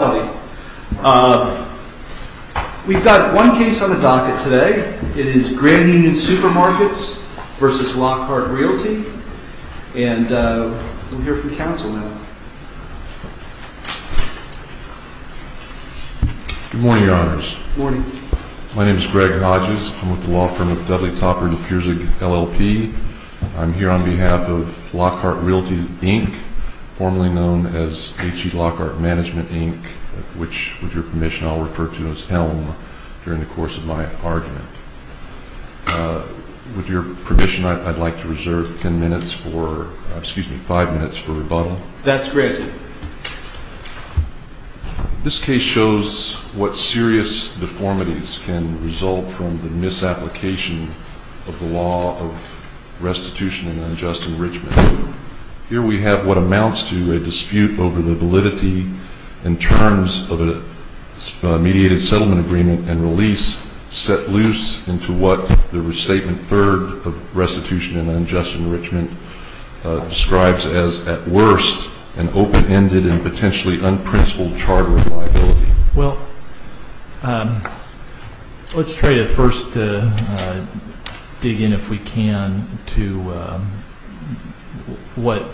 We've got one case on the docket today. It is Grand Union Supermarkets v. Lockhart Realty. And we'll hear from counsel now. Good morning, Your Honors. Good morning. My name is Greg Hodges. I'm with the law firm of Dudley, Topper & Piersig, LLP. I'm here on behalf of Lockhart Realty, Inc., formerly known as H.E. Lockhart Management, Inc., which, with your permission, I'll refer to as HELM during the course of my argument. With your permission, I'd like to reserve ten minutes for, excuse me, five minutes for rebuttal. That's granted. This case shows what serious deformities can result from the misapplication of the law of restitution and unjust enrichment. Here we have what amounts to a dispute over the validity in terms of a mediated settlement agreement and release set loose into what the restatement third of restitution and unjust enrichment describes as, at worst, an open-ended and potentially unprincipled charter of liability. Well, let's try to first dig in, if we can, to what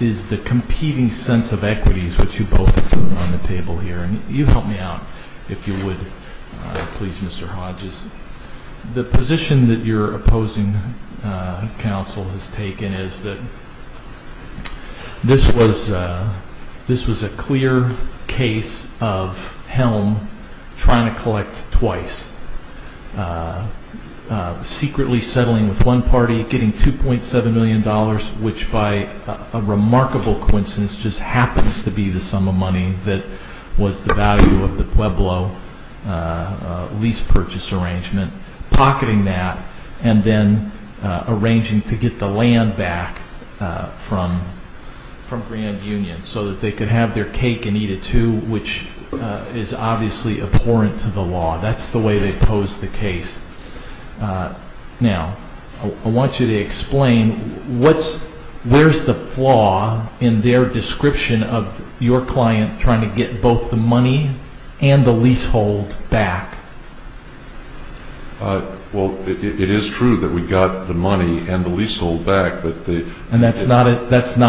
is the competing sense of equities which you both put on the table here. And you help me out, if you would, please, Mr. Hodges. The position that your opposing counsel has taken is that this was a clear case of HELM trying to collect twice, secretly settling with one party, getting $2.7 million, which by a remarkable coincidence just happens to be the sum of money that was the value of the Pueblo lease purchase arrangement, pocketing that, and then arranging to get the land back from Grand Union so that they could have their cake and eat it too, which is obviously abhorrent to the law. That's the way they posed the case. Now, I want you to explain where's the flaw in their description of your client trying to get both the money and the leasehold back? Well, it is true that we got the money and the leasehold back. And that's not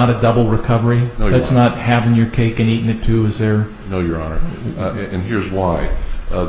a double recovery? No, Your Honor. That's not having your cake and eating it too, is there? No, Your Honor. And here's why. The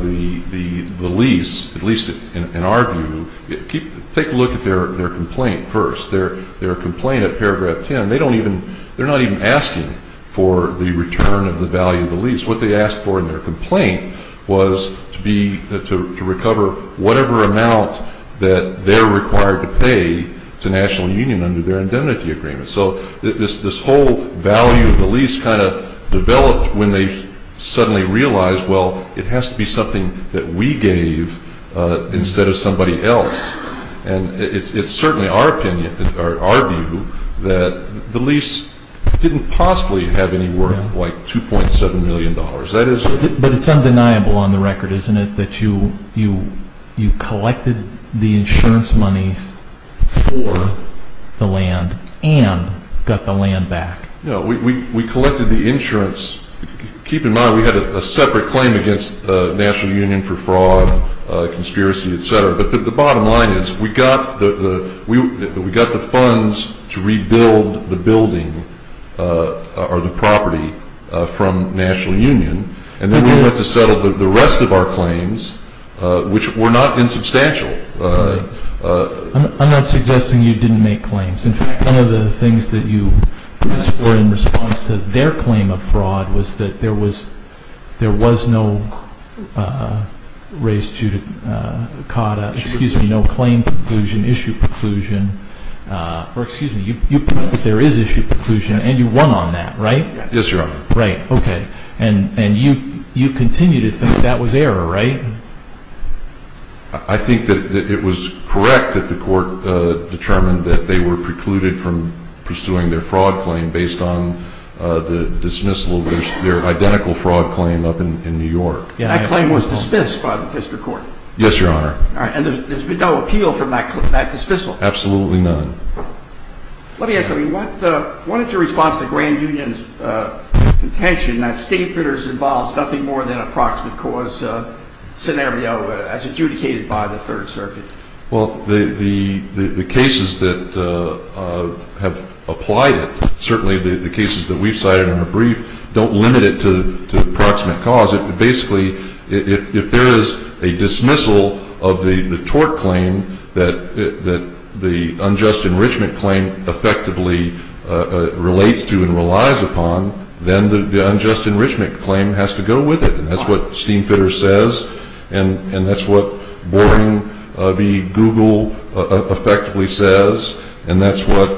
lease, at least in our view, take a look at their complaint first. Their complaint at paragraph 10, they don't even, they're not even asking for the return of the value of the lease. What they asked for in their complaint was to be, to recover whatever amount that they're required to pay to National Union under their indemnity agreement. So this whole value of the lease kind of developed when they suddenly realized, well, it has to be something that we gave instead of somebody else. And it's certainly our opinion, or our view, that the lease didn't possibly have any worth like $2.7 million. But it's undeniable on the record, isn't it, that you collected the insurance monies for the land and got the land back? No, we collected the insurance. Keep in mind, we had a separate claim against National Union for fraud, conspiracy, et cetera. But the bottom line is we got the funds to rebuild the building or the property from National Union. And then we went to settle the rest of our claims, which were not insubstantial. I'm not suggesting you didn't make claims. In fact, one of the things that you were in response to their claim of fraud was that there was no raise to CAUDA, excuse me, no claim preclusion, issue preclusion. Or excuse me, you point out that there is issue preclusion, and you won on that, right? Yes, Your Honor. Right, okay. And you continue to think that was error, right? I think that it was correct that the court determined that they were precluded from pursuing their fraud claim based on the dismissal of their identical fraud claim up in New York. That claim was dismissed by the district court? Yes, Your Honor. All right, and there's been no appeal from that dismissal? Absolutely none. Let me ask you something. What is your response to Grand Union's contention that state fitters involve nothing more than a proximate cause scenario as adjudicated by the Third Circuit? Well, the cases that have applied it, certainly the cases that we've cited in the brief, don't limit it to proximate cause. Basically, if there is a dismissal of the tort claim that the unjust enrichment claim effectively relates to and relies upon, then the unjust enrichment claim has to go with it. And that's what Steam Fitters says, and that's what Boarding v. Google effectively says, and that's what,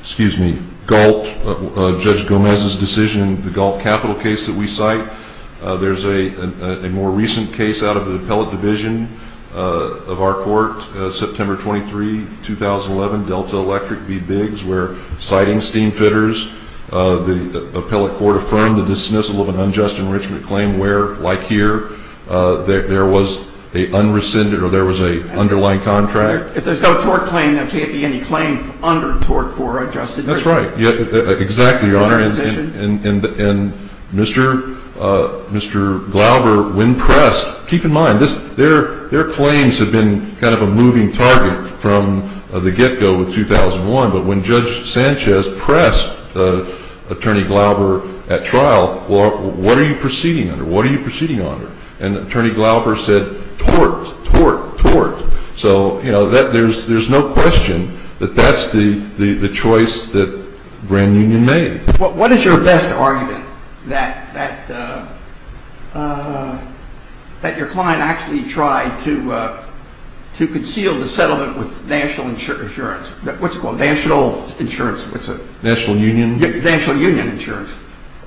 excuse me, Galt, Judge Gomez's decision, the Galt Capital case that we cite. There's a more recent case out of the appellate division of our court, September 23, 2011, Delta Electric v. Biggs, where, citing Steam Fitters, the appellate court affirmed the dismissal of an unjust enrichment claim where, like here, there was an underlying contract. If there's no tort claim, there can't be any claim under tort for adjusted enrichment. That's right. Exactly, Your Honor. And Mr. Glauber, when pressed, keep in mind, their claims have been kind of a moving target from the get-go with 2001. But when Judge Sanchez pressed Attorney Glauber at trial, well, what are you proceeding under? What are you proceeding under? And Attorney Glauber said, tort, tort, tort. So, you know, there's no question that that's the choice that Grand Union made. What is your best argument that your client actually tried to conceal the settlement with National Insurance? What's it called? National Insurance. National Union? National Union Insurance.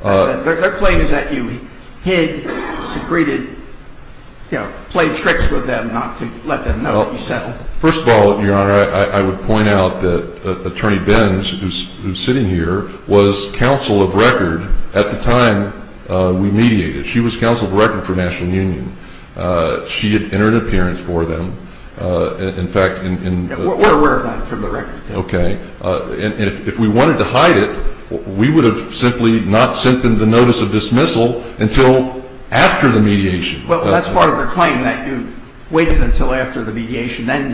Their claim is that you hid, secreted, you know, played tricks with them not to let them know that you settled. Well, first of all, Your Honor, I would point out that Attorney Benz, who's sitting here, was counsel of record at the time we mediated. She was counsel of record for National Union. She had entered an appearance for them. In fact, in… We're aware of that from the record. Okay. And if we wanted to hide it, we would have simply not sent them the notice of dismissal until after the mediation. Well, that's part of their claim, that you waited until after the mediation. Then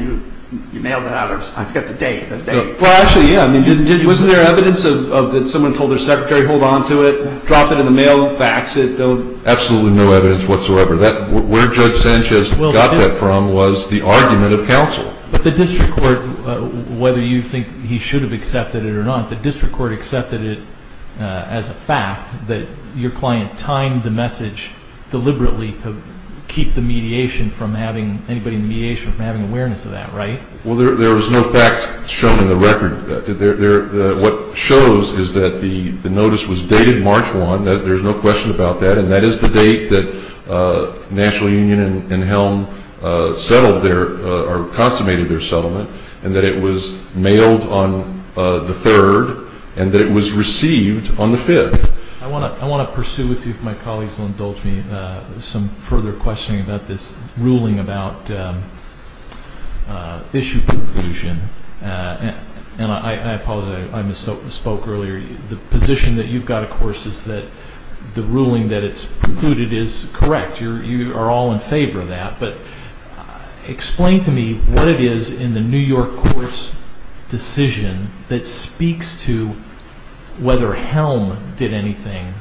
you mailed it out. I forget the date. Well, actually, yeah. I mean, wasn't there evidence that someone told their secretary, hold on to it, drop it in the mail, fax it, don't… Absolutely no evidence whatsoever. Where Judge Sanchez got that from was the argument of counsel. But the district court, whether you think he should have accepted it or not, the district court accepted it as a fact, that your client timed the message deliberately to keep the mediation from having… anybody in the mediation from having awareness of that, right? Well, there was no facts shown in the record. What shows is that the notice was dated March 1. There's no question about that. And that is the date that National Union and Helm settled their or consummated their settlement, and that it was mailed on the 3rd, and that it was received on the 5th. I want to pursue with you, if my colleagues will indulge me, some further questioning about this ruling about issue conclusion. And I apologize. I misspoke earlier. The position that you've got, of course, is that the ruling that it's precluded is correct. You are all in favor of that. But explain to me what it is in the New York court's decision that speaks to whether Helm did anything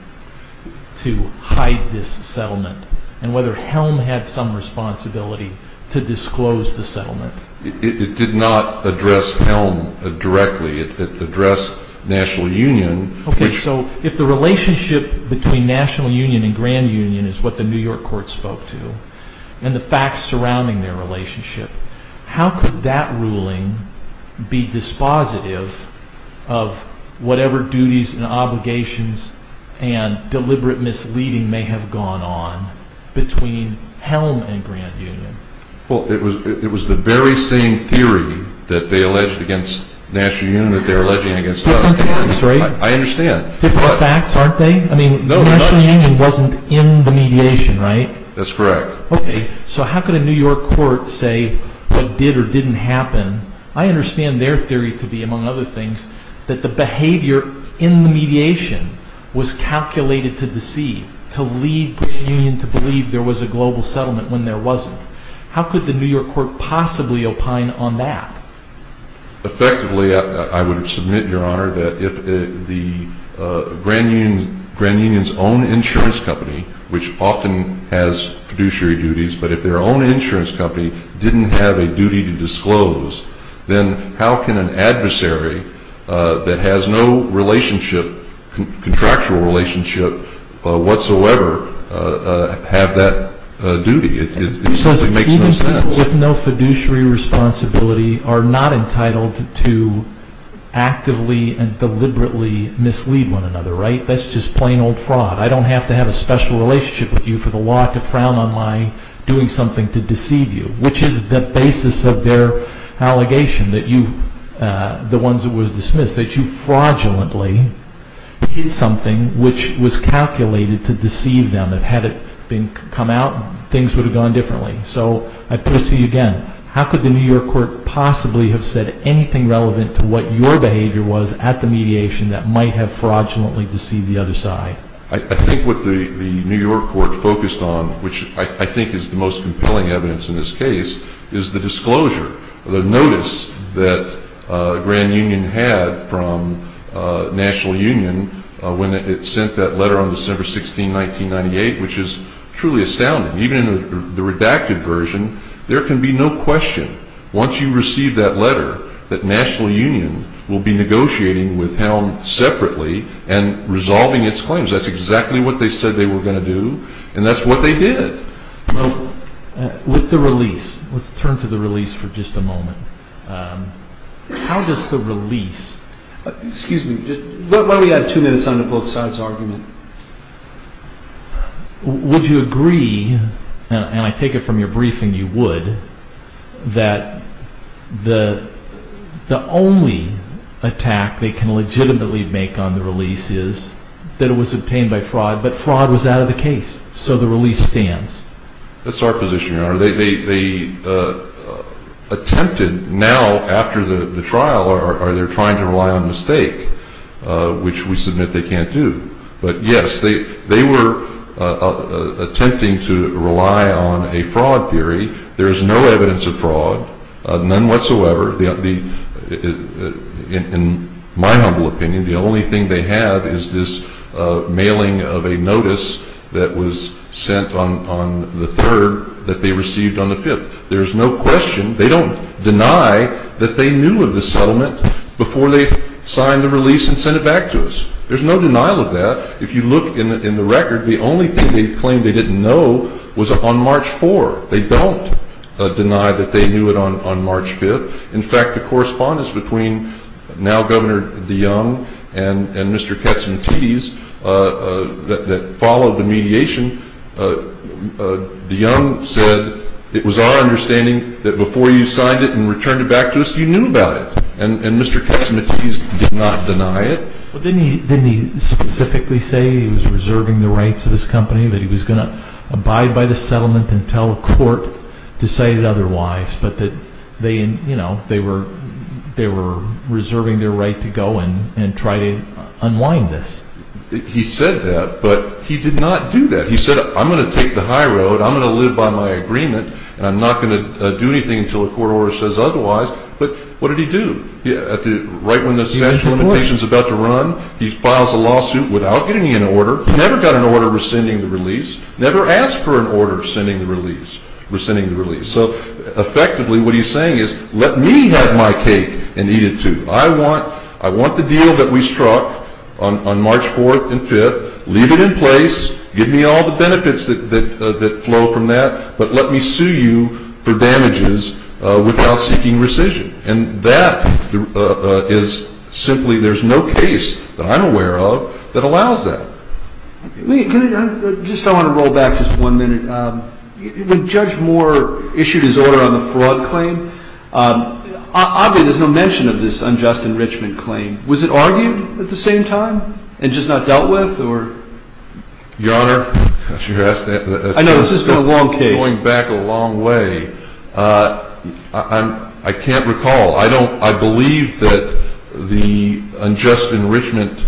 to hide this settlement and whether Helm had some responsibility to disclose the settlement. It did not address Helm directly. It addressed National Union. Okay. So if the relationship between National Union and Grand Union is what the New York court spoke to, and the facts surrounding their relationship, how could that ruling be dispositive of whatever duties and obligations and deliberate misleading may have gone on between Helm and Grand Union? Well, it was the very same theory that they alleged against National Union that they're alleging against us. Different facts, right? I understand. Different facts, aren't they? I mean, National Union wasn't in the mediation, right? That's correct. Okay. So how could a New York court say what did or didn't happen? I understand their theory to be, among other things, that the behavior in the mediation was calculated to deceive, to lead Grand Union to believe there was a global settlement when there wasn't. How could the New York court possibly opine on that? Effectively, I would submit, Your Honor, that if Grand Union's own insurance company, which often has fiduciary duties, but if their own insurance company didn't have a duty to disclose, then how can an adversary that has no contractual relationship whatsoever have that duty? It simply makes no sense. Because even people with no fiduciary responsibility are not entitled to actively and deliberately mislead one another, right? That's just plain old fraud. I don't have to have a special relationship with you for the law to frown on my doing something to deceive you, which is the basis of their allegation, the ones that were dismissed, that you fraudulently did something which was calculated to deceive them. Had it come out, things would have gone differently. So I put it to you again. How could the New York court possibly have said anything relevant to what your behavior was at the mediation that might have fraudulently deceived the other side? I think what the New York court focused on, which I think is the most compelling evidence in this case, is the disclosure, the notice that Grand Union had from National Union when it sent that letter on December 16, 1998, which is truly astounding. Even in the redacted version, there can be no question, once you receive that letter, that National Union will be negotiating with Helm separately and resolving its claims. That's exactly what they said they were going to do, and that's what they did. With the release, let's turn to the release for just a moment. How does the release... Excuse me. Why don't we add two minutes on to both sides' argument? Would you agree, and I take it from your briefing you would, that the only attack they can legitimately make on the release is that it was obtained by fraud, but fraud was out of the case, so the release stands? That's our position, Your Honor. They attempted now, after the trial, or they're trying to rely on mistake, which we submit they can't do. But, yes, they were attempting to rely on a fraud theory. There is no evidence of fraud, none whatsoever. In my humble opinion, the only thing they have is this mailing of a notice that was sent on the 3rd that they received on the 5th. There's no question. They don't deny that they knew of the settlement before they signed the release and sent it back to us. There's no denial of that. If you look in the record, the only thing they claim they didn't know was on March 4th. They don't deny that they knew it on March 5th. In fact, the correspondence between now Governor DeYoung and Mr. Katsimatis that followed the mediation, DeYoung said it was our understanding that before you signed it and returned it back to us, you knew about it. And Mr. Katsimatis did not deny it. Well, didn't he specifically say he was reserving the rights of his company, that he was going to abide by the settlement until a court decided otherwise, but that they were reserving their right to go and try to unwind this? He said that, but he did not do that. He said, I'm going to take the high road. I'm going to live by my agreement, and I'm not going to do anything until a court order says otherwise. But what did he do? Right when the special limitation is about to run, he files a lawsuit without getting an order, never got an order rescinding the release, never asked for an order rescinding the release. So effectively what he's saying is, let me have my cake and eat it too. I want the deal that we struck on March 4th and 5th, leave it in place, give me all the benefits that flow from that, but let me sue you for damages without seeking rescission. And that is simply, there's no case that I'm aware of that allows that. I just want to roll back just one minute. When Judge Moore issued his order on the fraud claim, obviously there's no mention of this unjust enrichment claim. Was it argued at the same time and just not dealt with? Your Honor, going back a long way, I can't recall. I believe that the unjust enrichment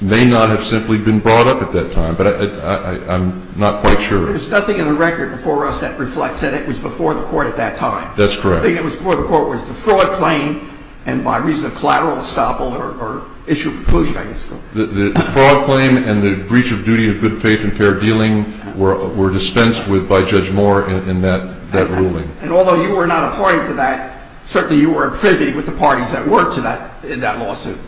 may not have simply been brought up at that time, but I'm not quite sure. There's nothing in the record before us that reflects that it was before the court at that time. That's correct. I think it was before the court was the fraud claim, and by reason of collateral estoppel or issue of inclusion, I guess. The fraud claim and the breach of duty of good faith and fair dealing were dispensed with by Judge Moore in that ruling. And although you were not a party to that, certainly you were in privy with the parties that worked in that lawsuit.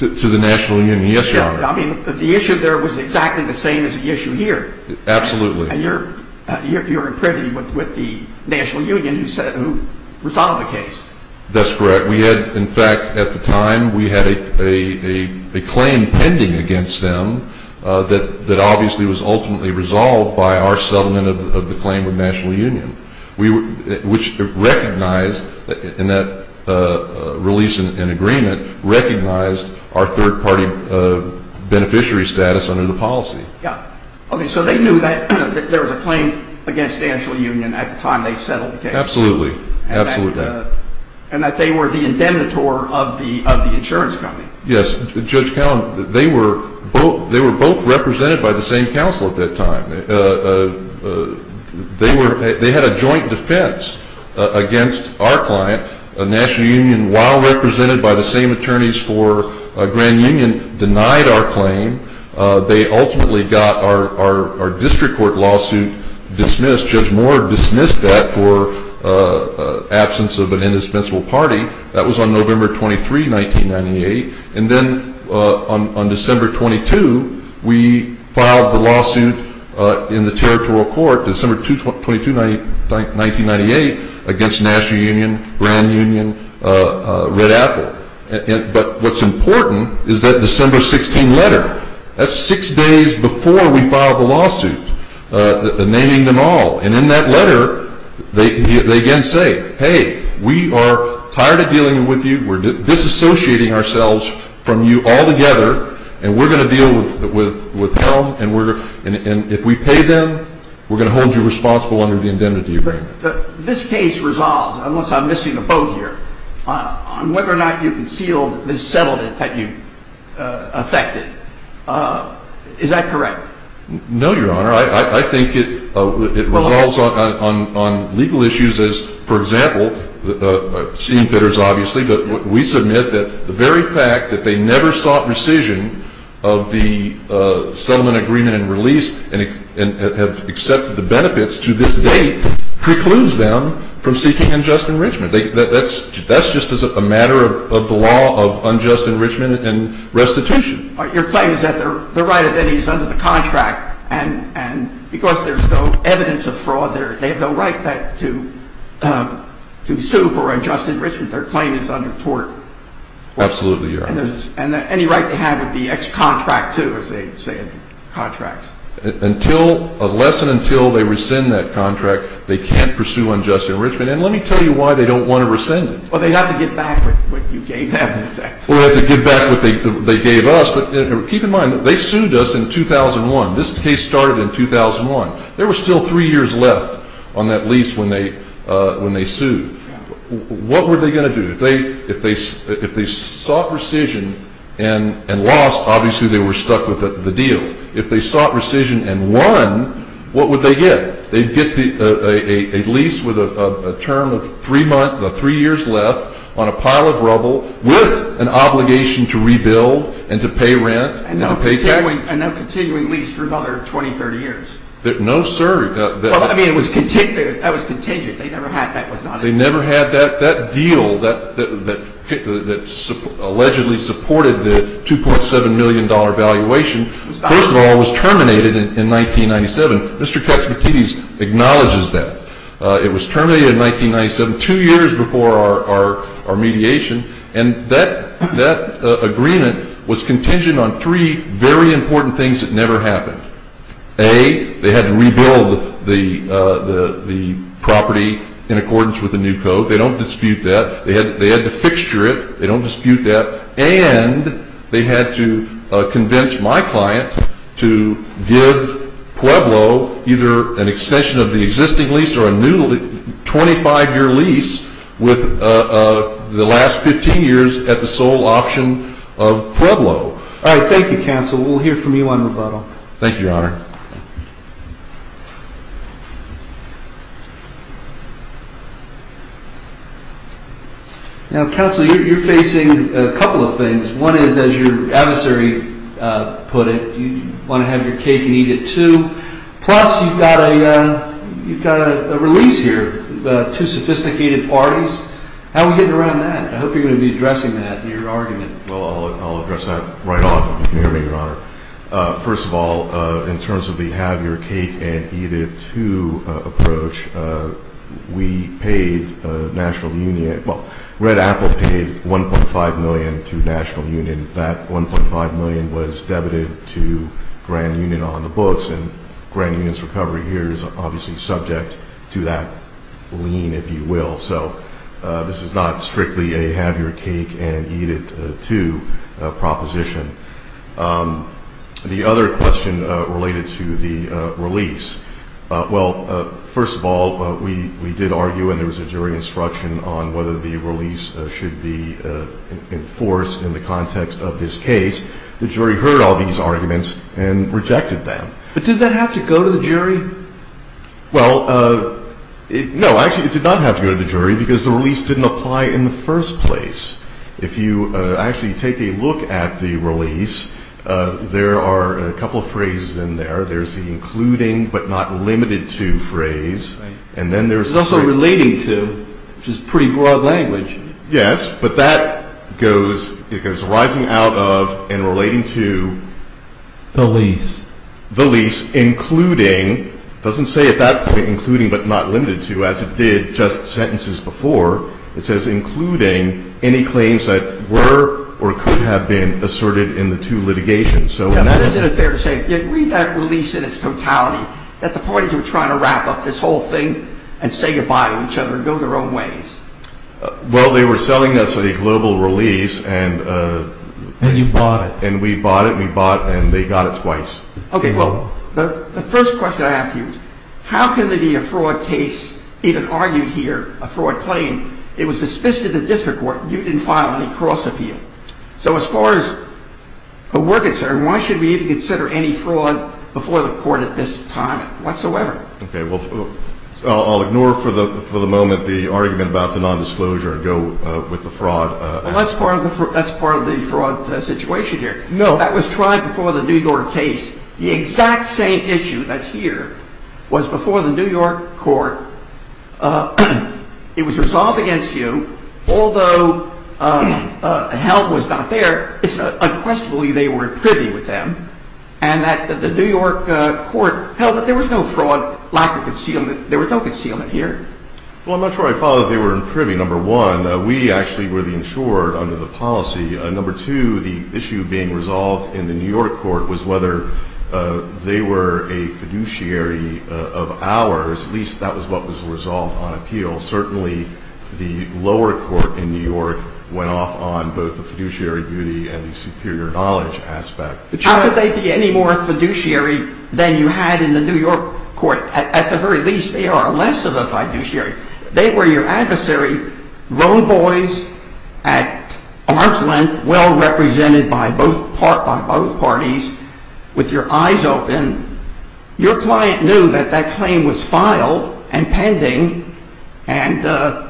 To the National Union, yes, Your Honor. I mean, the issue there was exactly the same as the issue here. Absolutely. And you're in privy with the National Union who resolved the case. That's correct. We had, in fact, at the time, we had a claim pending against them that obviously was ultimately resolved by our settlement of the claim with National Union, which recognized in that release and agreement recognized our third-party beneficiary status under the policy. Yeah. Okay, so they knew that there was a claim against National Union at the time they settled the case. Absolutely. Absolutely. And that they were the indemnitor of the insurance company. Yes. Judge Callum, they were both represented by the same counsel at that time. They had a joint defense against our client. National Union, while represented by the same attorneys for Grand Union, denied our claim. They ultimately got our district court lawsuit dismissed. Justice Judge Moore dismissed that for absence of an indispensable party. That was on November 23, 1998. And then on December 22, we filed the lawsuit in the territorial court, December 22, 1998, against National Union, Grand Union, Red Apple. But what's important is that December 16 letter. That's six days before we filed the lawsuit naming them all. And in that letter, they again say, hey, we are tired of dealing with you. We're disassociating ourselves from you altogether. And we're going to deal with them. And if we pay them, we're going to hold you responsible under the indemnity agreement. This case resolves, unless I'm missing a boat here, on whether or not you concealed the settlement that you affected. Is that correct? No, Your Honor. I think it resolves on legal issues as, for example, seeing fitters, obviously, but we submit that the very fact that they never sought rescission of the settlement agreement and release and have accepted the benefits to this date precludes them from seeking unjust enrichment. That's just as a matter of the law of unjust enrichment and restitution. Your claim is that they're right if any is under the contract. And because there's no evidence of fraud, they have no right to sue for unjust enrichment. Their claim is under tort. Absolutely, Your Honor. And any right they have would be ex-contract, too, as they say in contracts. Until, unless and until they rescind that contract, they can't pursue unjust enrichment. And let me tell you why they don't want to rescind it. Well, they'd have to give back what you gave them, in effect. Or they'd have to give back what they gave us. But keep in mind, they sued us in 2001. This case started in 2001. There were still three years left on that lease when they sued. What were they going to do? If they sought rescission and lost, obviously they were stuck with the deal. If they sought rescission and won, what would they get? They'd get a lease with a term of three years left on a pile of rubble with an obligation to rebuild and to pay rent and to pay taxes. And a continuing lease for another 20, 30 years. No, sir. Well, I mean, that was contingent. They never had that. That deal that allegedly supported the $2.7 million valuation, first of all, was terminated in 1997. Mr. Katz-McKitties acknowledges that. It was terminated in 1997, two years before our mediation. And that agreement was contingent on three very important things that never happened. A, they had to rebuild the property in accordance with the new code. They don't dispute that. They had to fixture it. They don't dispute that. And they had to convince my client to give Pueblo either an extension of the existing lease or a new 25-year lease with the last 15 years at the sole option of Pueblo. All right. Thank you, counsel. Thank you, Your Honor. Now, counsel, you're facing a couple of things. One is, as your adversary put it, you want to have your cake and eat it too. Plus, you've got a release here, two sophisticated parties. How are we getting around that? I hope you're going to be addressing that in your argument. Well, I'll address that right off, if you can hear me, Your Honor. First of all, in terms of the have-your-cake-and-eat-it-too approach, we paid National Union – well, Red Apple paid $1.5 million to National Union. That $1.5 million was debited to Grand Union on the books, and Grand Union's recovery here is obviously subject to that lien, if you will. So this is not strictly a have-your-cake-and-eat-it-too proposition. The other question related to the release. Well, first of all, we did argue, and there was a jury instruction on whether the release should be enforced in the context of this case. The jury heard all these arguments and rejected them. But did that have to go to the jury? Well, no. Actually, it did not have to go to the jury because the release didn't apply in the first place. If you actually take a look at the release, there are a couple of phrases in there. There's the including but not limited to phrase. Right. And then there's – There's also relating to, which is pretty broad language. Yes, but that goes – it goes rising out of and relating to – The lease. The lease, including – it doesn't say at that point including but not limited to, as it did just sentences before. It says including any claims that were or could have been asserted in the two litigations. Now, isn't it fair to say, read that release in its totality, that the parties were trying to wrap up this whole thing and say goodbye to each other and go their own ways? Well, they were selling us a global release and – And you bought it. And we bought it, and we bought it, and they got it twice. Okay, well, the first question I ask you is how can there be a fraud case, even argued here, a fraud claim? It was dismissed in the district court. You didn't file any cross-appeal. So as far as a work concern, why should we even consider any fraud before the court at this time whatsoever? Okay, well, I'll ignore for the moment the argument about the nondisclosure and go with the fraud. Well, that's part of the fraud situation here. No. That was tried before the New York case. The exact same issue that's here was before the New York court. It was resolved against you. Although Held was not there, it's unquestionably they were in privy with them, and that the New York court held that there was no fraud, lack of concealment. There was no concealment here. Well, I'm not sure I follow that they were in privy, number one. We actually were the insured under the policy. Number two, the issue being resolved in the New York court was whether they were a fiduciary of ours. At least that was what was resolved on appeal. Certainly, the lower court in New York went off on both the fiduciary duty and the superior knowledge aspect. How could they be any more fiduciary than you had in the New York court? At the very least, they are less of a fiduciary. They were your adversary, lone boys at arm's length, well represented by both parties, with your eyes open. Your client knew that that claim was filed and pending, and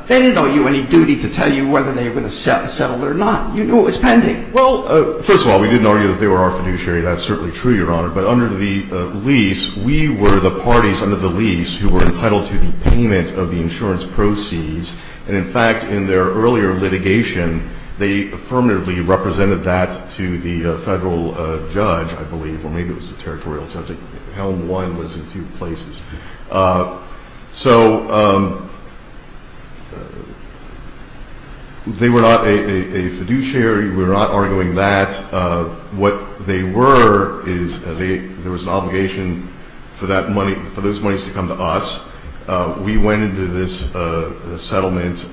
they didn't owe you any duty to tell you whether they would have settled or not. You knew it was pending. Well, first of all, we didn't argue that they were our fiduciary. That's certainly true, Your Honor. But under the lease, we were the parties under the lease who were entitled to the payment of the insurance proceeds. And, in fact, in their earlier litigation, they affirmatively represented that to the federal judge, I believe, or maybe it was the territorial judge. Helm 1 was in two places. So they were not a fiduciary. We're not arguing that. What they were is there was an obligation for that money, for those monies to come to us. We went into this settlement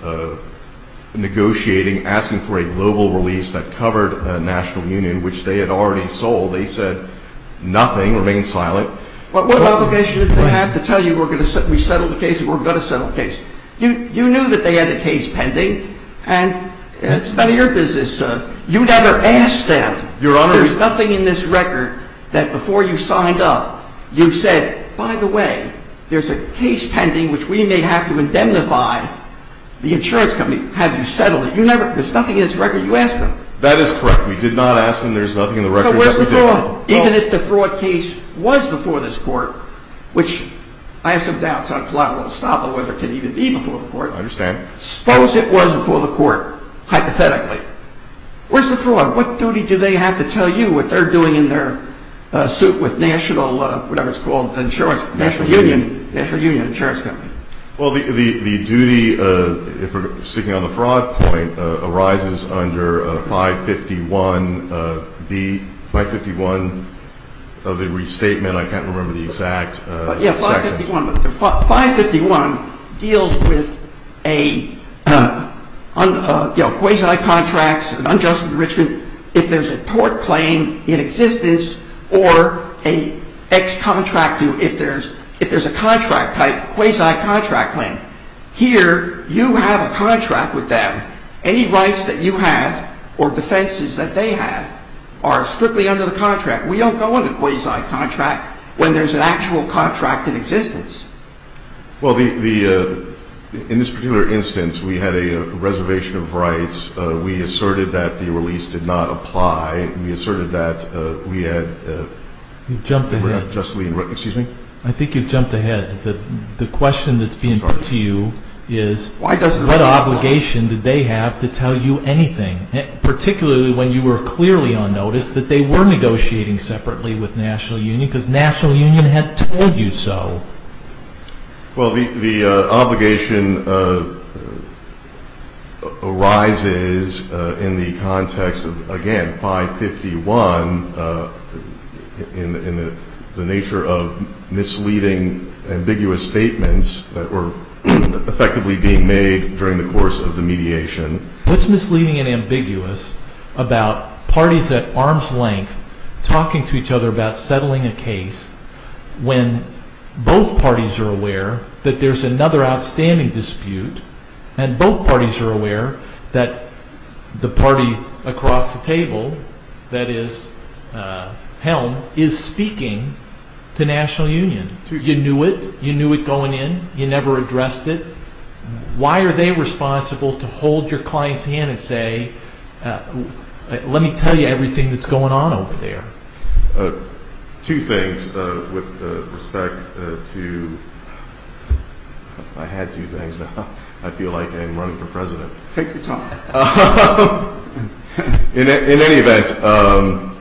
negotiating, asking for a global release that covered a national union, which they had already sold. They said nothing, remained silent. Well, what obligation did they have to tell you we're going to settle the case, we're going to settle the case? You knew that they had the case pending. And it's none of your business. You never asked them. Your Honor. There's nothing in this record that before you signed up, you said, by the way, there's a case pending which we may have to indemnify the insurance company. Have you settled it? There's nothing in this record. You asked them. That is correct. We did not ask them. There's nothing in the record that we did. So where's the fraud? Even if the fraud case was before this Court, which I have some doubts on whether it can even be before the Court. I understand. Suppose it was before the Court, hypothetically. Where's the fraud? What duty do they have to tell you what they're doing in their suit with national, whatever it's called, insurance, national union, national union insurance company? Well, the duty, if we're sticking on the fraud point, arises under 551B, 551 of the restatement. I can't remember the exact sections. 551 deals with a, you know, quasi-contracts, an unjust enrichment. If there's a tort claim in existence or a ex-contract due, if there's a contract type, quasi-contract claim. Here, you have a contract with them. Any rights that you have or defenses that they have are strictly under the contract. We don't go under quasi-contract when there's an actual contract in existence. Well, the, in this particular instance, we had a reservation of rights. We asserted that the release did not apply. We asserted that we had. You've jumped ahead. Excuse me? I think you've jumped ahead. The question that's being put to you is what obligation did they have to tell you anything, particularly when you were clearly on notice that they were negotiating separately with National Union, because National Union had told you so? Well, the obligation arises in the context of, again, 551 in the nature of misleading, ambiguous statements that were effectively being made during the course of the mediation. What's misleading and ambiguous about parties at arm's length talking to each other about settling a case when both parties are aware that there's another outstanding dispute and both parties are aware that the party across the table, that is Helm, is speaking to National Union? You knew it. You knew it going in. You never addressed it. Why are they responsible to hold your client's hand and say, let me tell you everything that's going on over there? Two things. With respect to – I had two things. I feel like I'm running for president. Take your time. In any event –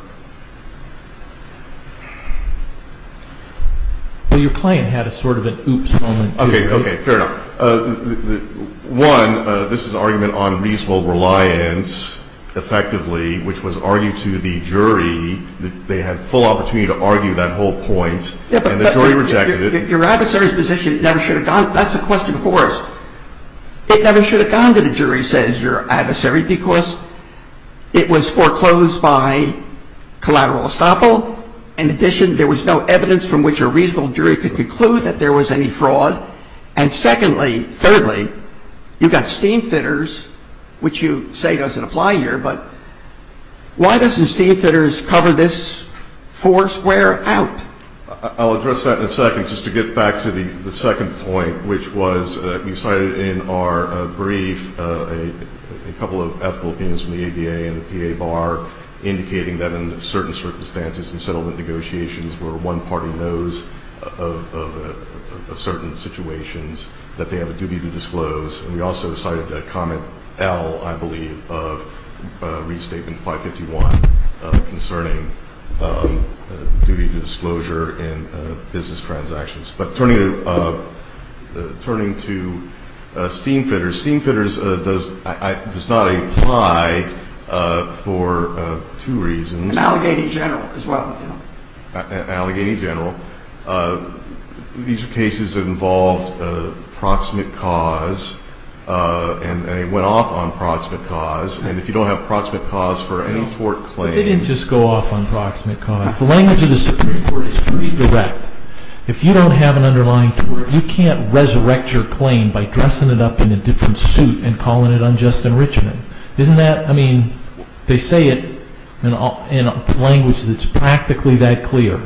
Well, your client had a sort of an oops moment. Okay, fair enough. One, this is an argument on reasonable reliance, effectively, which was argued to the jury. They had full opportunity to argue that whole point, and the jury rejected it. Your adversary's position never should have gone – that's the question before us. It never should have gone to the jury, says your adversary, because it was foreclosed by collateral estoppel. In addition, there was no evidence from which a reasonable jury could conclude that there was any fraud. And secondly, thirdly, you've got steam thinners, which you say doesn't apply here, but why doesn't steam thinners cover this four square out? I'll address that in a second. Just to get back to the second point, which was we cited in our brief a couple of ethical opinions from the ADA and the PA bar indicating that in certain circumstances in settlement negotiations where one party knows of certain situations that they have a duty to disclose. And we also cited comment L, I believe, of Restatement 551 concerning duty to disclosure in business transactions. But turning to steam thinners, steam thinners does not apply for two reasons. And Allegheny General as well. Allegheny General. These are cases that involved proximate cause, and they went off on proximate cause. And if you don't have proximate cause for any tort claim – They didn't just go off on proximate cause. The language of the Supreme Court is pretty direct. If you don't have an underlying tort, you can't resurrect your claim by dressing it up in a different suit and calling it unjust enrichment. Isn't that – I mean, they say it in a language that's practically that clear.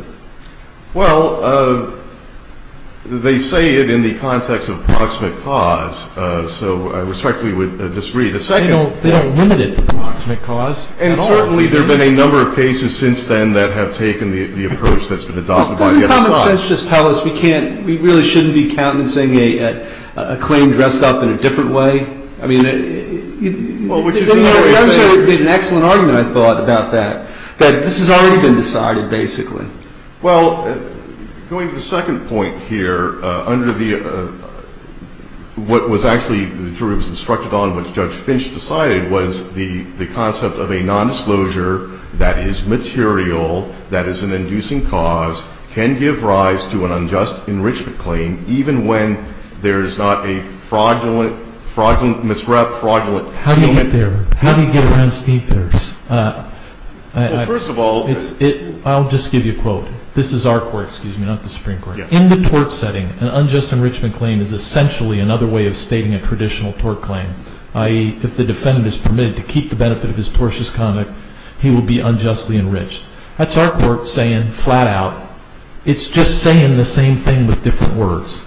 Well, they say it in the context of proximate cause, so I respectfully would disagree. The second – They don't limit it to proximate cause at all. And certainly there have been a number of cases since then that have taken the approach that's been adopted by – Doesn't common sense just tell us we can't – we really shouldn't be countenancing a claim dressed up in a different way? I mean – Well, which is the only way to say it. I'm sure it would be an excellent argument, I thought, about that, that this has already been decided, basically. Well, going to the second point here, under the – what was actually the jury was instructed on, which Judge Finch decided, was the concept of a nondisclosure that is material, that is an inducing cause, can give rise to an unjust enrichment claim, even when there is not a fraudulent, misrep, fraudulent – How do you get there? How do you get around Steve Farris? Well, first of all – I'll just give you a quote. This is our court, excuse me, not the Supreme Court. In the tort setting, an unjust enrichment claim is essentially another way of stating a traditional tort claim, i.e., if the defendant is permitted to keep the benefit of his tortious conduct, he will be unjustly enriched. That's our court saying, flat out. It's just saying the same thing with different words.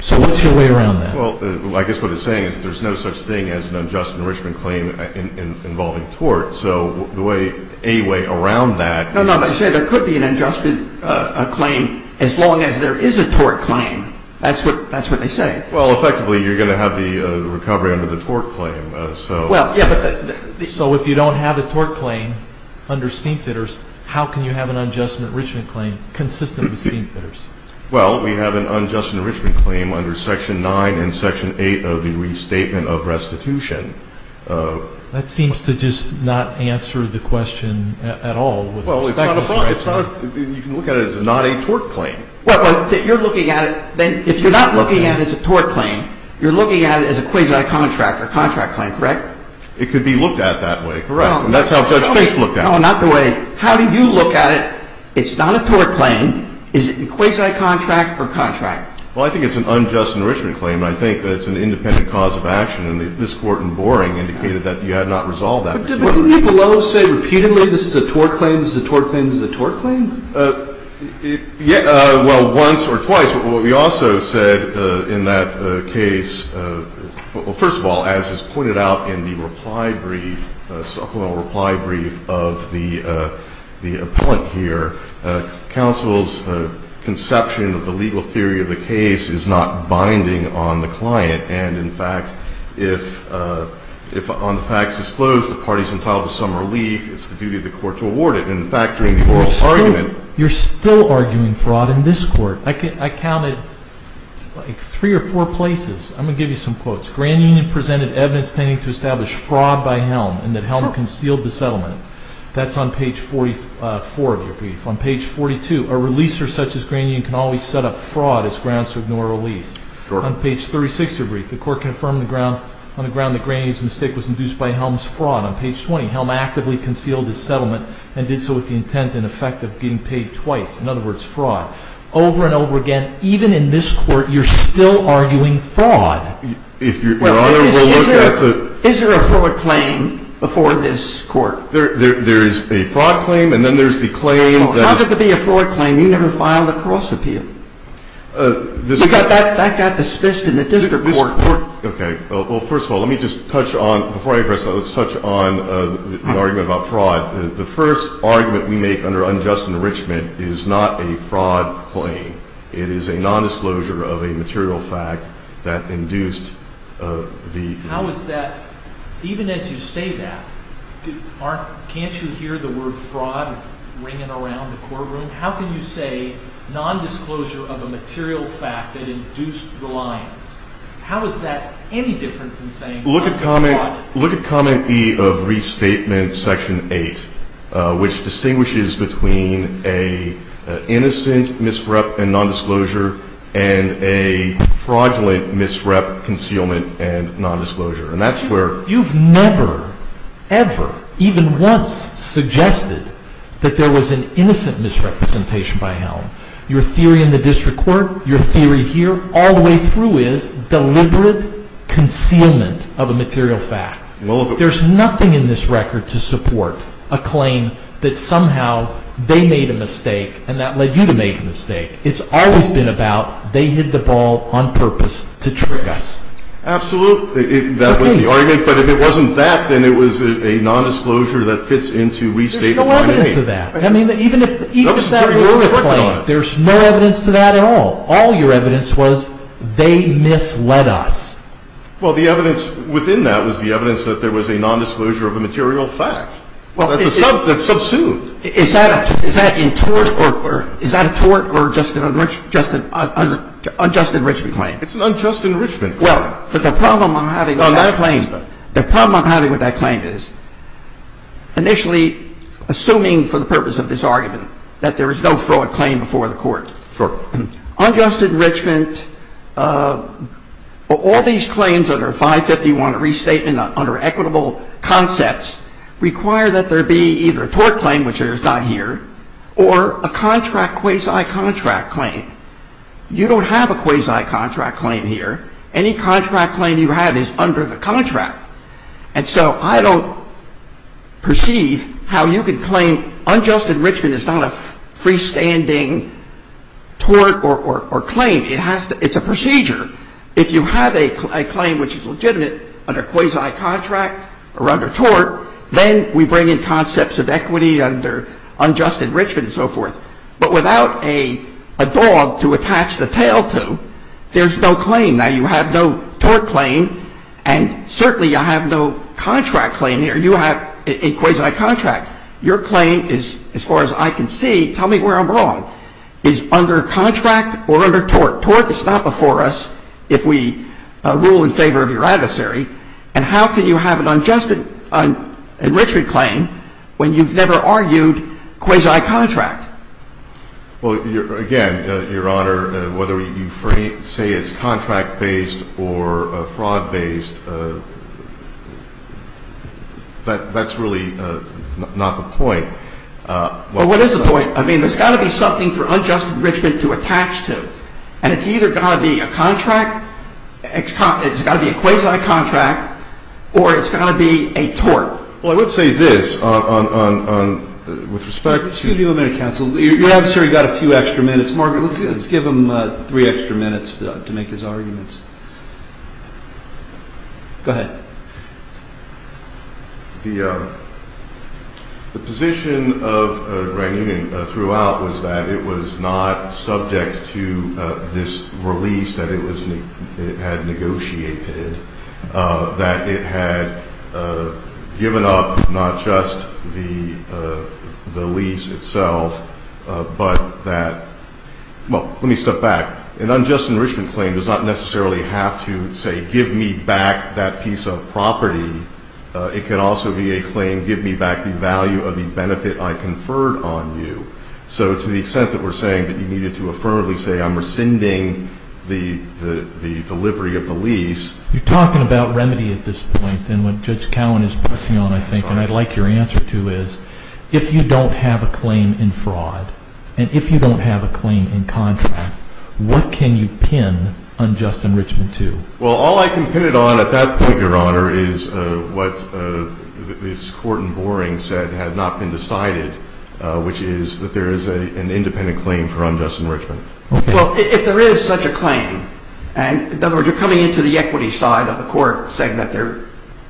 So what's your way around that? Well, I guess what it's saying is there's no such thing as an unjust enrichment claim involving tort. So the way – a way around that – No, no, they say there could be an unjust claim as long as there is a tort claim. That's what they say. Well, effectively, you're going to have the recovery under the tort claim. So – Well, yeah, but – So if you don't have a tort claim under Steve Farris, how can you have an unjust enrichment claim consistent with Steve Farris? Well, we have an unjust enrichment claim under Section 9 and Section 8 of the Restatement of Restitution. That seems to just not answer the question at all. Well, it's not a – you can look at it as not a tort claim. Well, you're looking at it – if you're not looking at it as a tort claim, you're looking at it as a quasi-contract or contract claim, correct? It could be looked at that way, correct. And that's how Judge Fisch looked at it. No, not the way – how do you look at it? It's not a tort claim. Is it a quasi-contract or contract? Well, I think it's an unjust enrichment claim. I think it's an independent cause of action. And this Court in Boring indicated that you had not resolved that. But didn't the below say repeatedly this is a tort claim, this is a tort claim, this is a tort claim? Well, once or twice. But what we also said in that case – well, first of all, as is pointed out in the reply brief, supplemental reply brief of the appellant here, counsel's conception of the legal theory of the case is not binding on the client. And, in fact, if on the facts disclosed the party is entitled to some relief, it's the duty of the court to award it. In fact, during the oral argument – You're still arguing fraud in this Court. I counted like three or four places. I'm going to give you some quotes. Grand Union presented evidence tending to establish fraud by Helm and that Helm concealed the settlement. That's on page 44 of your brief. On page 42, a releaser such as Grand Union can always set up fraud as grounds to ignore a release. Sure. On page 36 of your brief, the Court confirmed on the ground that Grand Union's mistake was induced by Helm's fraud. Not on page 20. Helm actively concealed his settlement and did so with the intent in effect of being paid twice. In other words, fraud. Over and over again, even in this Court, you're still arguing fraud. Your Honor, we'll look at the – Well, is there a fraud claim before this Court? There is a fraud claim and then there's the claim that – How is it to be a fraud claim? You never filed a cross appeal. That got dismissed in the district court. Okay. Well, first of all, let me just touch on – before I address that, let's touch on the argument about fraud. The first argument we make under unjust enrichment is not a fraud claim. It is a nondisclosure of a material fact that induced the – How is that – even as you say that, can't you hear the word fraud ringing around the courtroom? How can you say nondisclosure of a material fact that induced reliance? How is that any different than saying fraud? Look at Comment E of Restatement Section 8, which distinguishes between an innocent misrep and nondisclosure and a fraudulent misrep, concealment, and nondisclosure. And that's where – You've never, ever, even once suggested that there was an innocent misrepresentation by Helm. Your theory in the district court, your theory here, all the way through is deliberate concealment of a material fact. There's nothing in this record to support a claim that somehow they made a mistake and that led you to make a mistake. It's always been about they hit the ball on purpose to trick us. Absolutely. That was the argument. But if it wasn't that, then it was a nondisclosure that fits into Restatement 8. There's no evidence of that. I mean, even if that were your claim, there's no evidence to that at all. All your evidence was they misled us. Well, the evidence within that was the evidence that there was a nondisclosure of a material fact. That's subsumed. Is that a tort or just an unjust enrichment claim? It's an unjust enrichment claim. Well, the problem I'm having with that claim is, initially, assuming for the purpose of this argument that there is no fraud claim before the court, unjust enrichment, all these claims under 551 Restatement under equitable concepts require that there be either a tort claim, which is not here, or a contract quasi-contract claim. You don't have a quasi-contract claim here. Any contract claim you have is under the contract. And so I don't perceive how you can claim unjust enrichment is not a freestanding tort or claim. It's a procedure. If you have a claim which is legitimate under quasi-contract or under tort, then we bring in concepts of equity under unjust enrichment and so forth. But without a dog to attach the tail to, there's no claim. Now, you have no tort claim, and certainly you have no contract claim here. You have a quasi-contract. Your claim is, as far as I can see, tell me where I'm wrong, is under contract or under tort. Tort is not before us if we rule in favor of your adversary. And how can you have an unjust enrichment claim when you've never argued quasi-contract? Well, again, Your Honor, whether you say it's contract-based or fraud-based, that's really not the point. Well, what is the point? I mean, there's got to be something for unjust enrichment to attach to. And it's either got to be a contract, it's got to be a quasi-contract, or it's got to be a tort. Well, I would say this with respect to- Excuse me a minute, counsel. Your adversary got a few extra minutes. Margaret, let's give him three extra minutes to make his arguments. Go ahead. The position of the Grand Union throughout was that it was not subject to this release that it had negotiated, that it had given up not just the lease itself but that-well, let me step back. An unjust enrichment claim does not necessarily have to say give me back that piece of property. It can also be a claim give me back the value of the benefit I conferred on you. So to the extent that we're saying that you needed to affirmably say I'm rescinding the delivery of the lease- You're talking about remedy at this point. And what Judge Cowen is pressing on, I think, and I'd like your answer to is if you don't have a claim in fraud and if you don't have a claim in contract, what can you pin unjust enrichment to? Well, all I can pin it on at that point, Your Honor, is what this court in Boring said had not been decided, which is that there is an independent claim for unjust enrichment. Well, if there is such a claim, in other words, you're coming into the equity side of the court saying that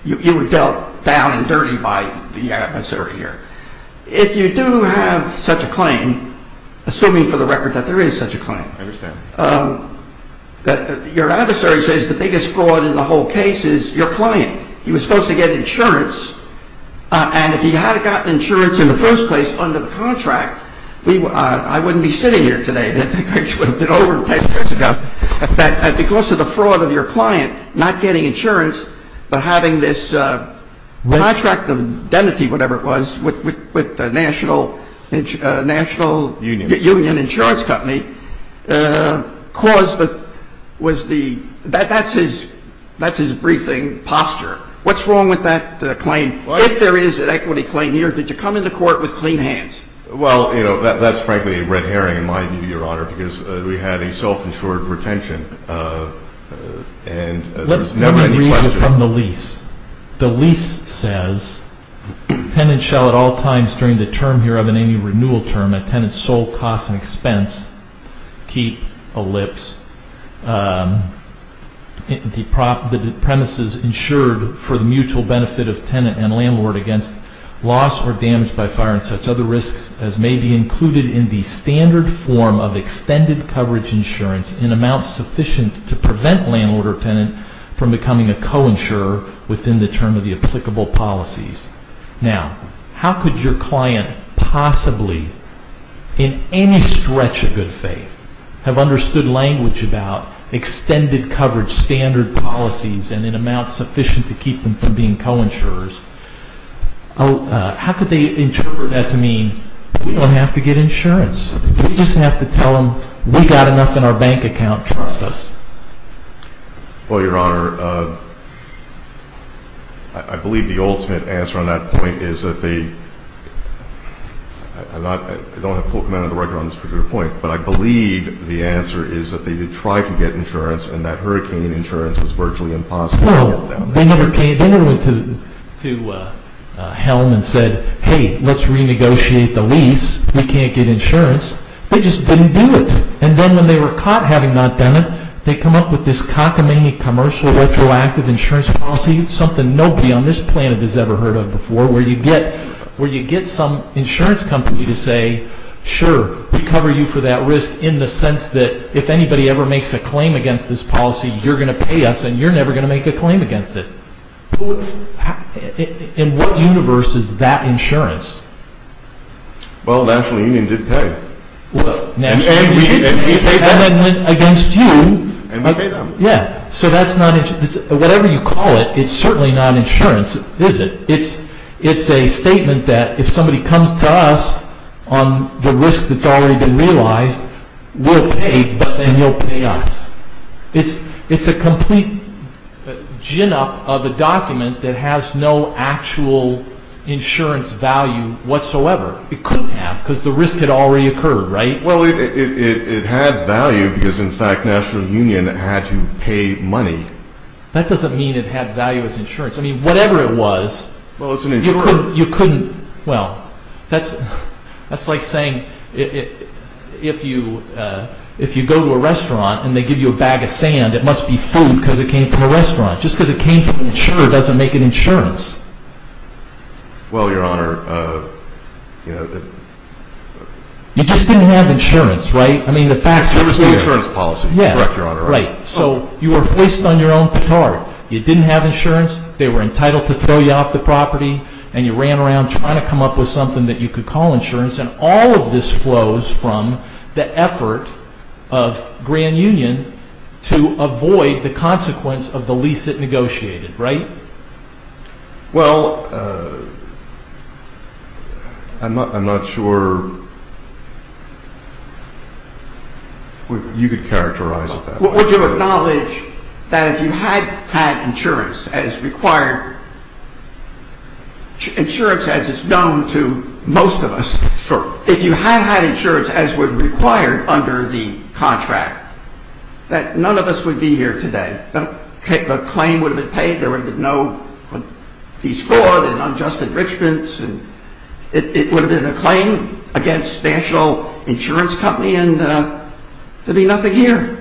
you were dealt down and dirty by the adversary here. If you do have such a claim, assuming for the record that there is such a claim- I understand. Your adversary says the biggest fraud in the whole case is your client. He was supposed to get insurance, and if he had gotten insurance in the first place under the contract, I wouldn't be sitting here today, which would have been over 10 years ago. Because of the fraud of your client not getting insurance but having this contract of identity, whatever it was, with the National Union Insurance Company caused the-that's his briefing posture. What's wrong with that claim? If there is an equity claim here, did you come into court with clean hands? Well, you know, that's frankly a red herring in my view, Your Honor, because we had a self-insured retention, and there was never any question- Let me read you from the lease. The lease says, Tenants shall at all times during the term here of any renewal term, a tenant's sole cost and expense, keep, ellipse, the premises insured for the mutual benefit of tenant and landlord against loss or damage by fire and such other risks as may be included in the standard form of extended coverage insurance in amounts sufficient to prevent landlord or tenant from becoming a co-insurer within the term of the applicable policies. Now, how could your client possibly, in any stretch of good faith, have understood language about extended coverage standard policies and in amounts sufficient to keep them from being co-insurers? How could they interpret that to mean we don't have to get insurance? Do we just have to tell them we've got enough in our bank account, trust us? Well, Your Honor, I believe the ultimate answer on that point is that they- I don't have full command of the record on this particular point, but I believe the answer is that they did try to get insurance, and that hurricane insurance was virtually impossible to get them. Well, they never came, they never went to helm and said, hey, let's renegotiate the lease, we can't get insurance. They just didn't do it. And then when they were caught having not done it, they come up with this cockamamie commercial retroactive insurance policy, something nobody on this planet has ever heard of before, where you get some insurance company to say, sure, we cover you for that risk in the sense that if anybody ever makes a claim against this policy, you're going to pay us and you're never going to make a claim against it. In what universe is that insurance? Well, the National Union did pay. And we paid them against you. And we paid them. Yeah, so that's not insurance. Whatever you call it, it's certainly not insurance, is it? It's a statement that if somebody comes to us on the risk that's already been realized, we'll pay, but then you'll pay us. It's a complete gin up of a document that has no actual insurance value whatsoever. It couldn't have because the risk had already occurred, right? Well, it had value because, in fact, National Union had to pay money. That doesn't mean it had value as insurance. I mean, whatever it was, you couldn't. Well, that's like saying if you go to a restaurant and they give you a bag of sand, it must be food because it came from a restaurant. Just because it came from an insurer doesn't make it insurance. Well, Your Honor, you know... You just didn't have insurance, right? I mean, the facts are clear. It was the insurance policy. Yeah. Correct, Your Honor. Right. So you were hoist on your own petard. You didn't have insurance. They were entitled to throw you off the property, and you ran around trying to come up with something that you could call insurance, and all of this flows from the effort of Grand Union to avoid the consequence of the lease it negotiated, right? Well, I'm not sure you could characterize it that way. Would you acknowledge that if you had had insurance as required, insurance as it's known to most of us, if you had had insurance as was required under the contract, that none of us would be here today? The claim would have been paid. There would have been no lease fraud and unjust enrichments. It would have been a claim against National Insurance Company, and there would be nothing here.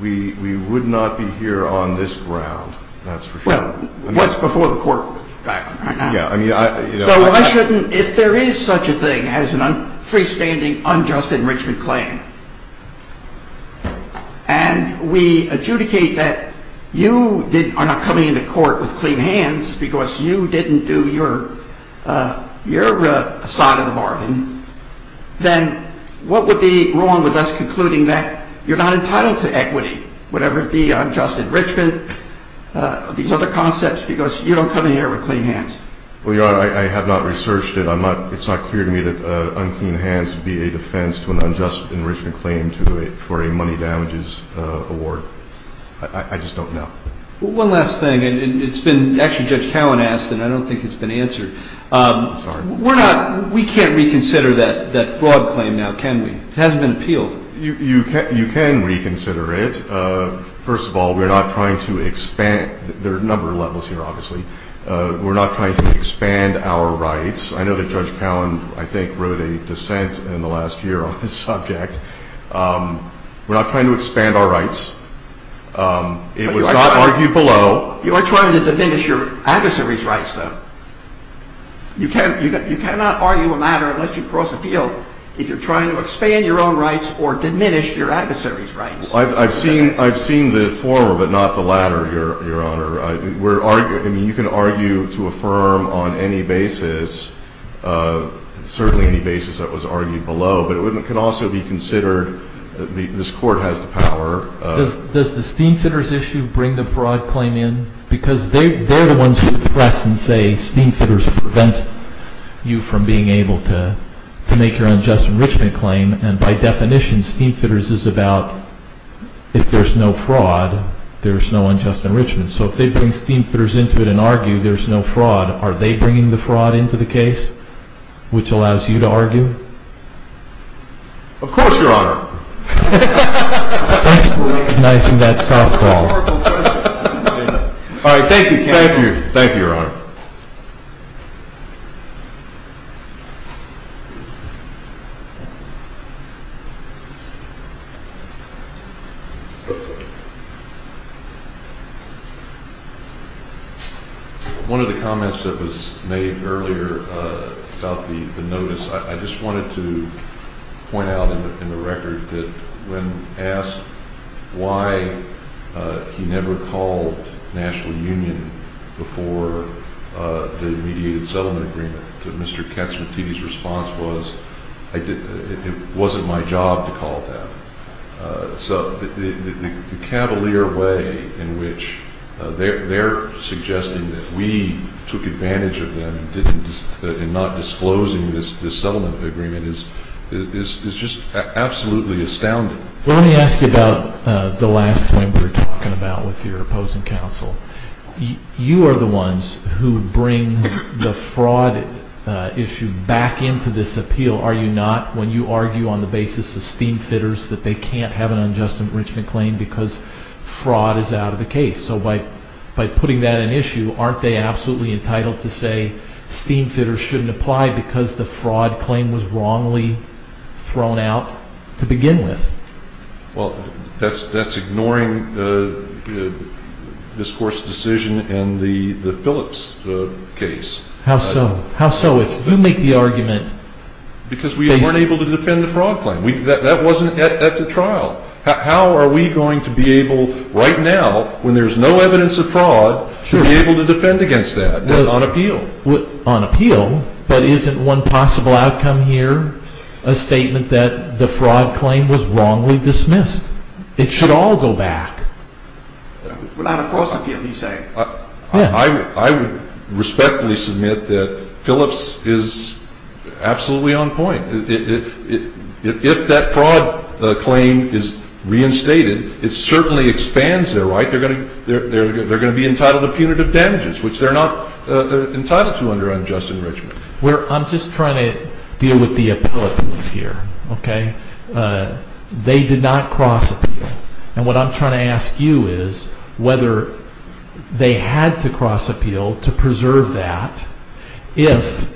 We would not be here on this ground. That's for sure. Well, it was before the court. So why shouldn't, if there is such a thing as a freestanding unjust enrichment claim, and we adjudicate that you are not coming into court with clean hands because you didn't do your side of the bargain, then what would be wrong with us concluding that you're not entitled to equity, whatever it be, unjust enrichment, these other concepts, because you don't come in here with clean hands? Well, Your Honor, I have not researched it. It's not clear to me that unclean hands would be a defense to an unjust enrichment claim for a money damages award. I just don't know. One last thing. Actually, Judge Cowan asked, and I don't think it's been answered. I'm sorry. We can't reconsider that fraud claim now, can we? It hasn't been appealed. You can reconsider it. First of all, we're not trying to expand. There are a number of levels here, obviously. We're not trying to expand our rights. I know that Judge Cowan, I think, wrote a dissent in the last year on this subject. We're not trying to expand our rights. It was not argued below. You are trying to diminish your adversary's rights, though. You cannot argue a matter unless you've crossed the field, if you're trying to expand your own rights or diminish your adversary's rights. I've seen the former but not the latter, Your Honor. I mean, you can argue to affirm on any basis, certainly any basis that was argued below, but it can also be considered that this Court has the power. Does the Steemfitters issue bring the fraud claim in? Because they're the ones who press and say Steemfitters prevents you from being able to make your unjust enrichment claim, and by definition, Steemfitters is about if there's no fraud, there's no unjust enrichment. So if they bring Steemfitters into it and argue there's no fraud, are they bringing the fraud into the case, which allows you to argue? Of course, Your Honor. That's nice in that softball. All right. Thank you, Ken. Thank you. Thank you, Your Honor. One of the comments that was made earlier about the notice, I just wanted to point out in the record that when asked why he never called National Union before the mediated settlement agreement, Mr. Katsimatidi's response was, it wasn't my job to call it that. So the cavalier way in which they're suggesting that we took advantage of them and not disclosing this settlement agreement is just absolutely astounding. Well, let me ask you about the last point we were talking about with your opposing counsel. You are the ones who bring the fraud issue back into this appeal, are you not, when you argue on the basis of Steemfitters that they can't have an unjust enrichment claim because fraud is out of the case. So by putting that in issue, aren't they absolutely entitled to say Steemfitters shouldn't apply because the fraud claim was wrongly thrown out to begin with? Well, that's ignoring this Court's decision in the Phillips case. How so? How so? You make the argument. Because we weren't able to defend the fraud claim. That wasn't at the trial. How are we going to be able right now when there's no evidence of fraud to be able to defend against that on appeal? But isn't one possible outcome here a statement that the fraud claim was wrongly dismissed? It should all go back. Well, I'm across the field, he's saying. I would respectfully submit that Phillips is absolutely on point. If that fraud claim is reinstated, it certainly expands their right. They're going to be entitled to punitive damages, which they're not entitled to under unjust enrichment. I'm just trying to deal with the appeal here. They did not cross appeal. And what I'm trying to ask you is whether they had to cross appeal to preserve that If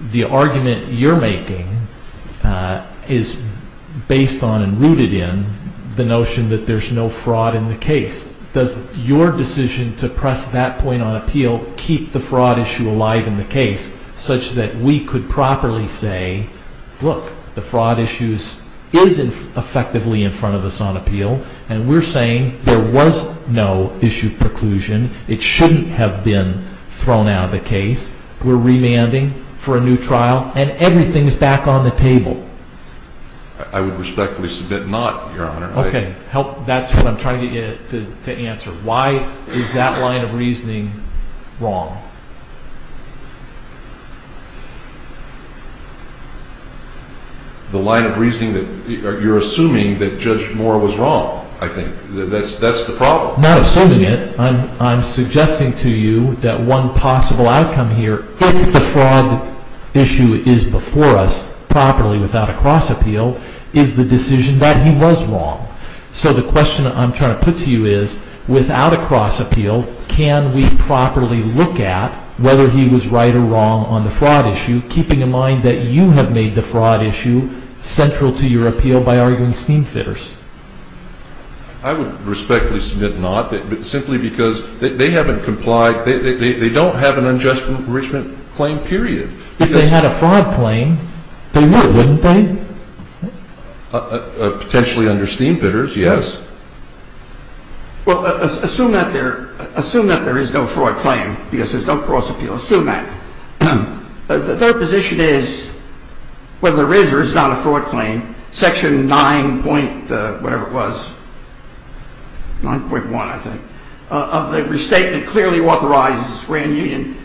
the argument you're making is based on and rooted in the notion that there's no fraud in the case, does your decision to press that point on appeal keep the fraud issue alive in the case such that we could properly say, look, the fraud issue is effectively in front of us on appeal, and we're saying there was no issue preclusion. It shouldn't have been thrown out of the case. We're remanding for a new trial, and everything's back on the table. I would respectfully submit not, Your Honor. Okay, that's what I'm trying to get you to answer. Why is that line of reasoning wrong? The line of reasoning that you're assuming that Judge Moore was wrong, I think. That's the problem. Well, not assuming it, I'm suggesting to you that one possible outcome here, if the fraud issue is before us properly without a cross appeal, is the decision that he was wrong. So the question I'm trying to put to you is, without a cross appeal, can we properly look at whether he was right or wrong on the fraud issue, keeping in mind that you have made the fraud issue central to your appeal by arguing steam fitters? I would respectfully submit not, simply because they haven't complied. They don't have an unjust enrichment claim, period. If they had a fraud claim, they would, wouldn't they? Potentially under steam fitters, yes. Well, assume that there is no fraud claim because there's no cross appeal. Assume that. The third position is, whether there is or is not a fraud claim, Section 9.1, I think, of the restatement clearly authorizes the Grand Union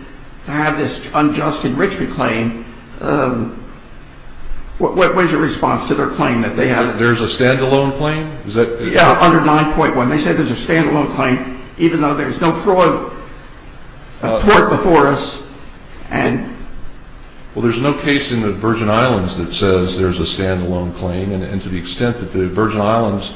to have this unjust enrichment claim. What is your response to their claim that they have it? There's a standalone claim? Yeah, under 9.1. They said there's a standalone claim even though there's no fraud report before us. Well, there's no case in the Virgin Islands that says there's a standalone claim, and to the extent that the Virgin Islands,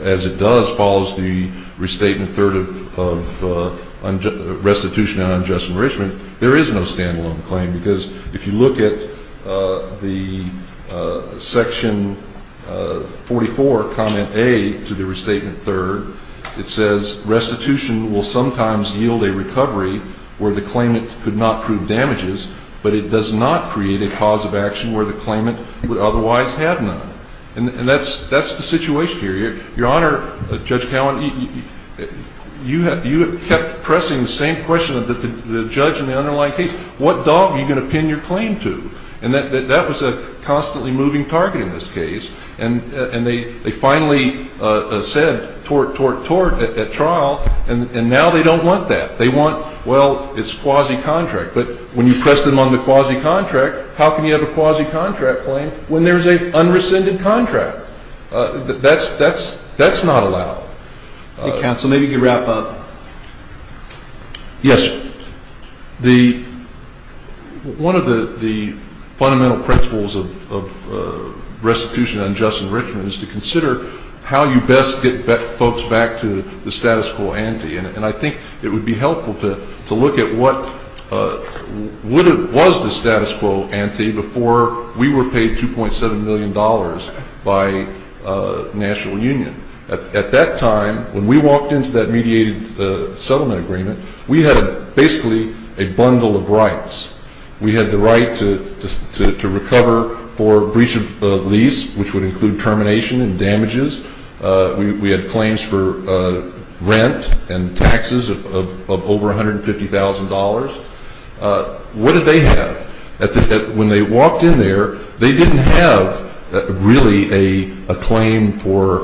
as it does, follows the restatement third of restitution and unjust enrichment, there is no standalone claim because if you look at the Section 44, Comment A, to the restatement third, it says restitution will sometimes yield a recovery where the claimant could not prove damages, but it does not create a cause of action where the claimant would otherwise have none. And that's the situation here. Your Honor, Judge Cowan, you have kept pressing the same question that the judge in the underlying case. What dog are you going to pin your claim to? And that was a constantly moving target in this case. And they finally said tort, tort, tort at trial, and now they don't want that. They want, well, it's quasi-contract. But when you press them on the quasi-contract, how can you have a quasi-contract claim when there's an unrescinded contract? That's not allowed. Counsel, maybe you could wrap up. Yes, one of the fundamental principles of restitution and unjust enrichment is to consider how you best get folks back to the status quo ante. And I think it would be helpful to look at what was the status quo ante before we were paid $2.7 million by the National Union. At that time, when we walked into that mediated settlement agreement, we had basically a bundle of rights. We had the right to recover for breach of lease, which would include termination and damages. We had claims for rent and taxes of over $150,000. What did they have? When they walked in there, they didn't have really a claim for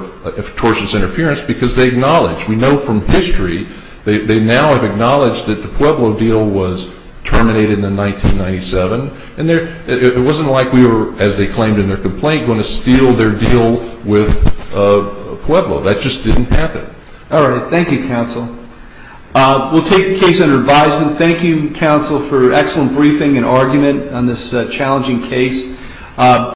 tortious interference because they acknowledged, we know from history, they now have acknowledged that the Pueblo deal was terminated in 1997, and it wasn't like we were, as they claimed in their complaint, going to steal their deal with Pueblo. That just didn't happen. All right. Thank you, Counsel. We'll take the case under advisement. Thank you, Counsel, for excellent briefing and argument on this challenging case.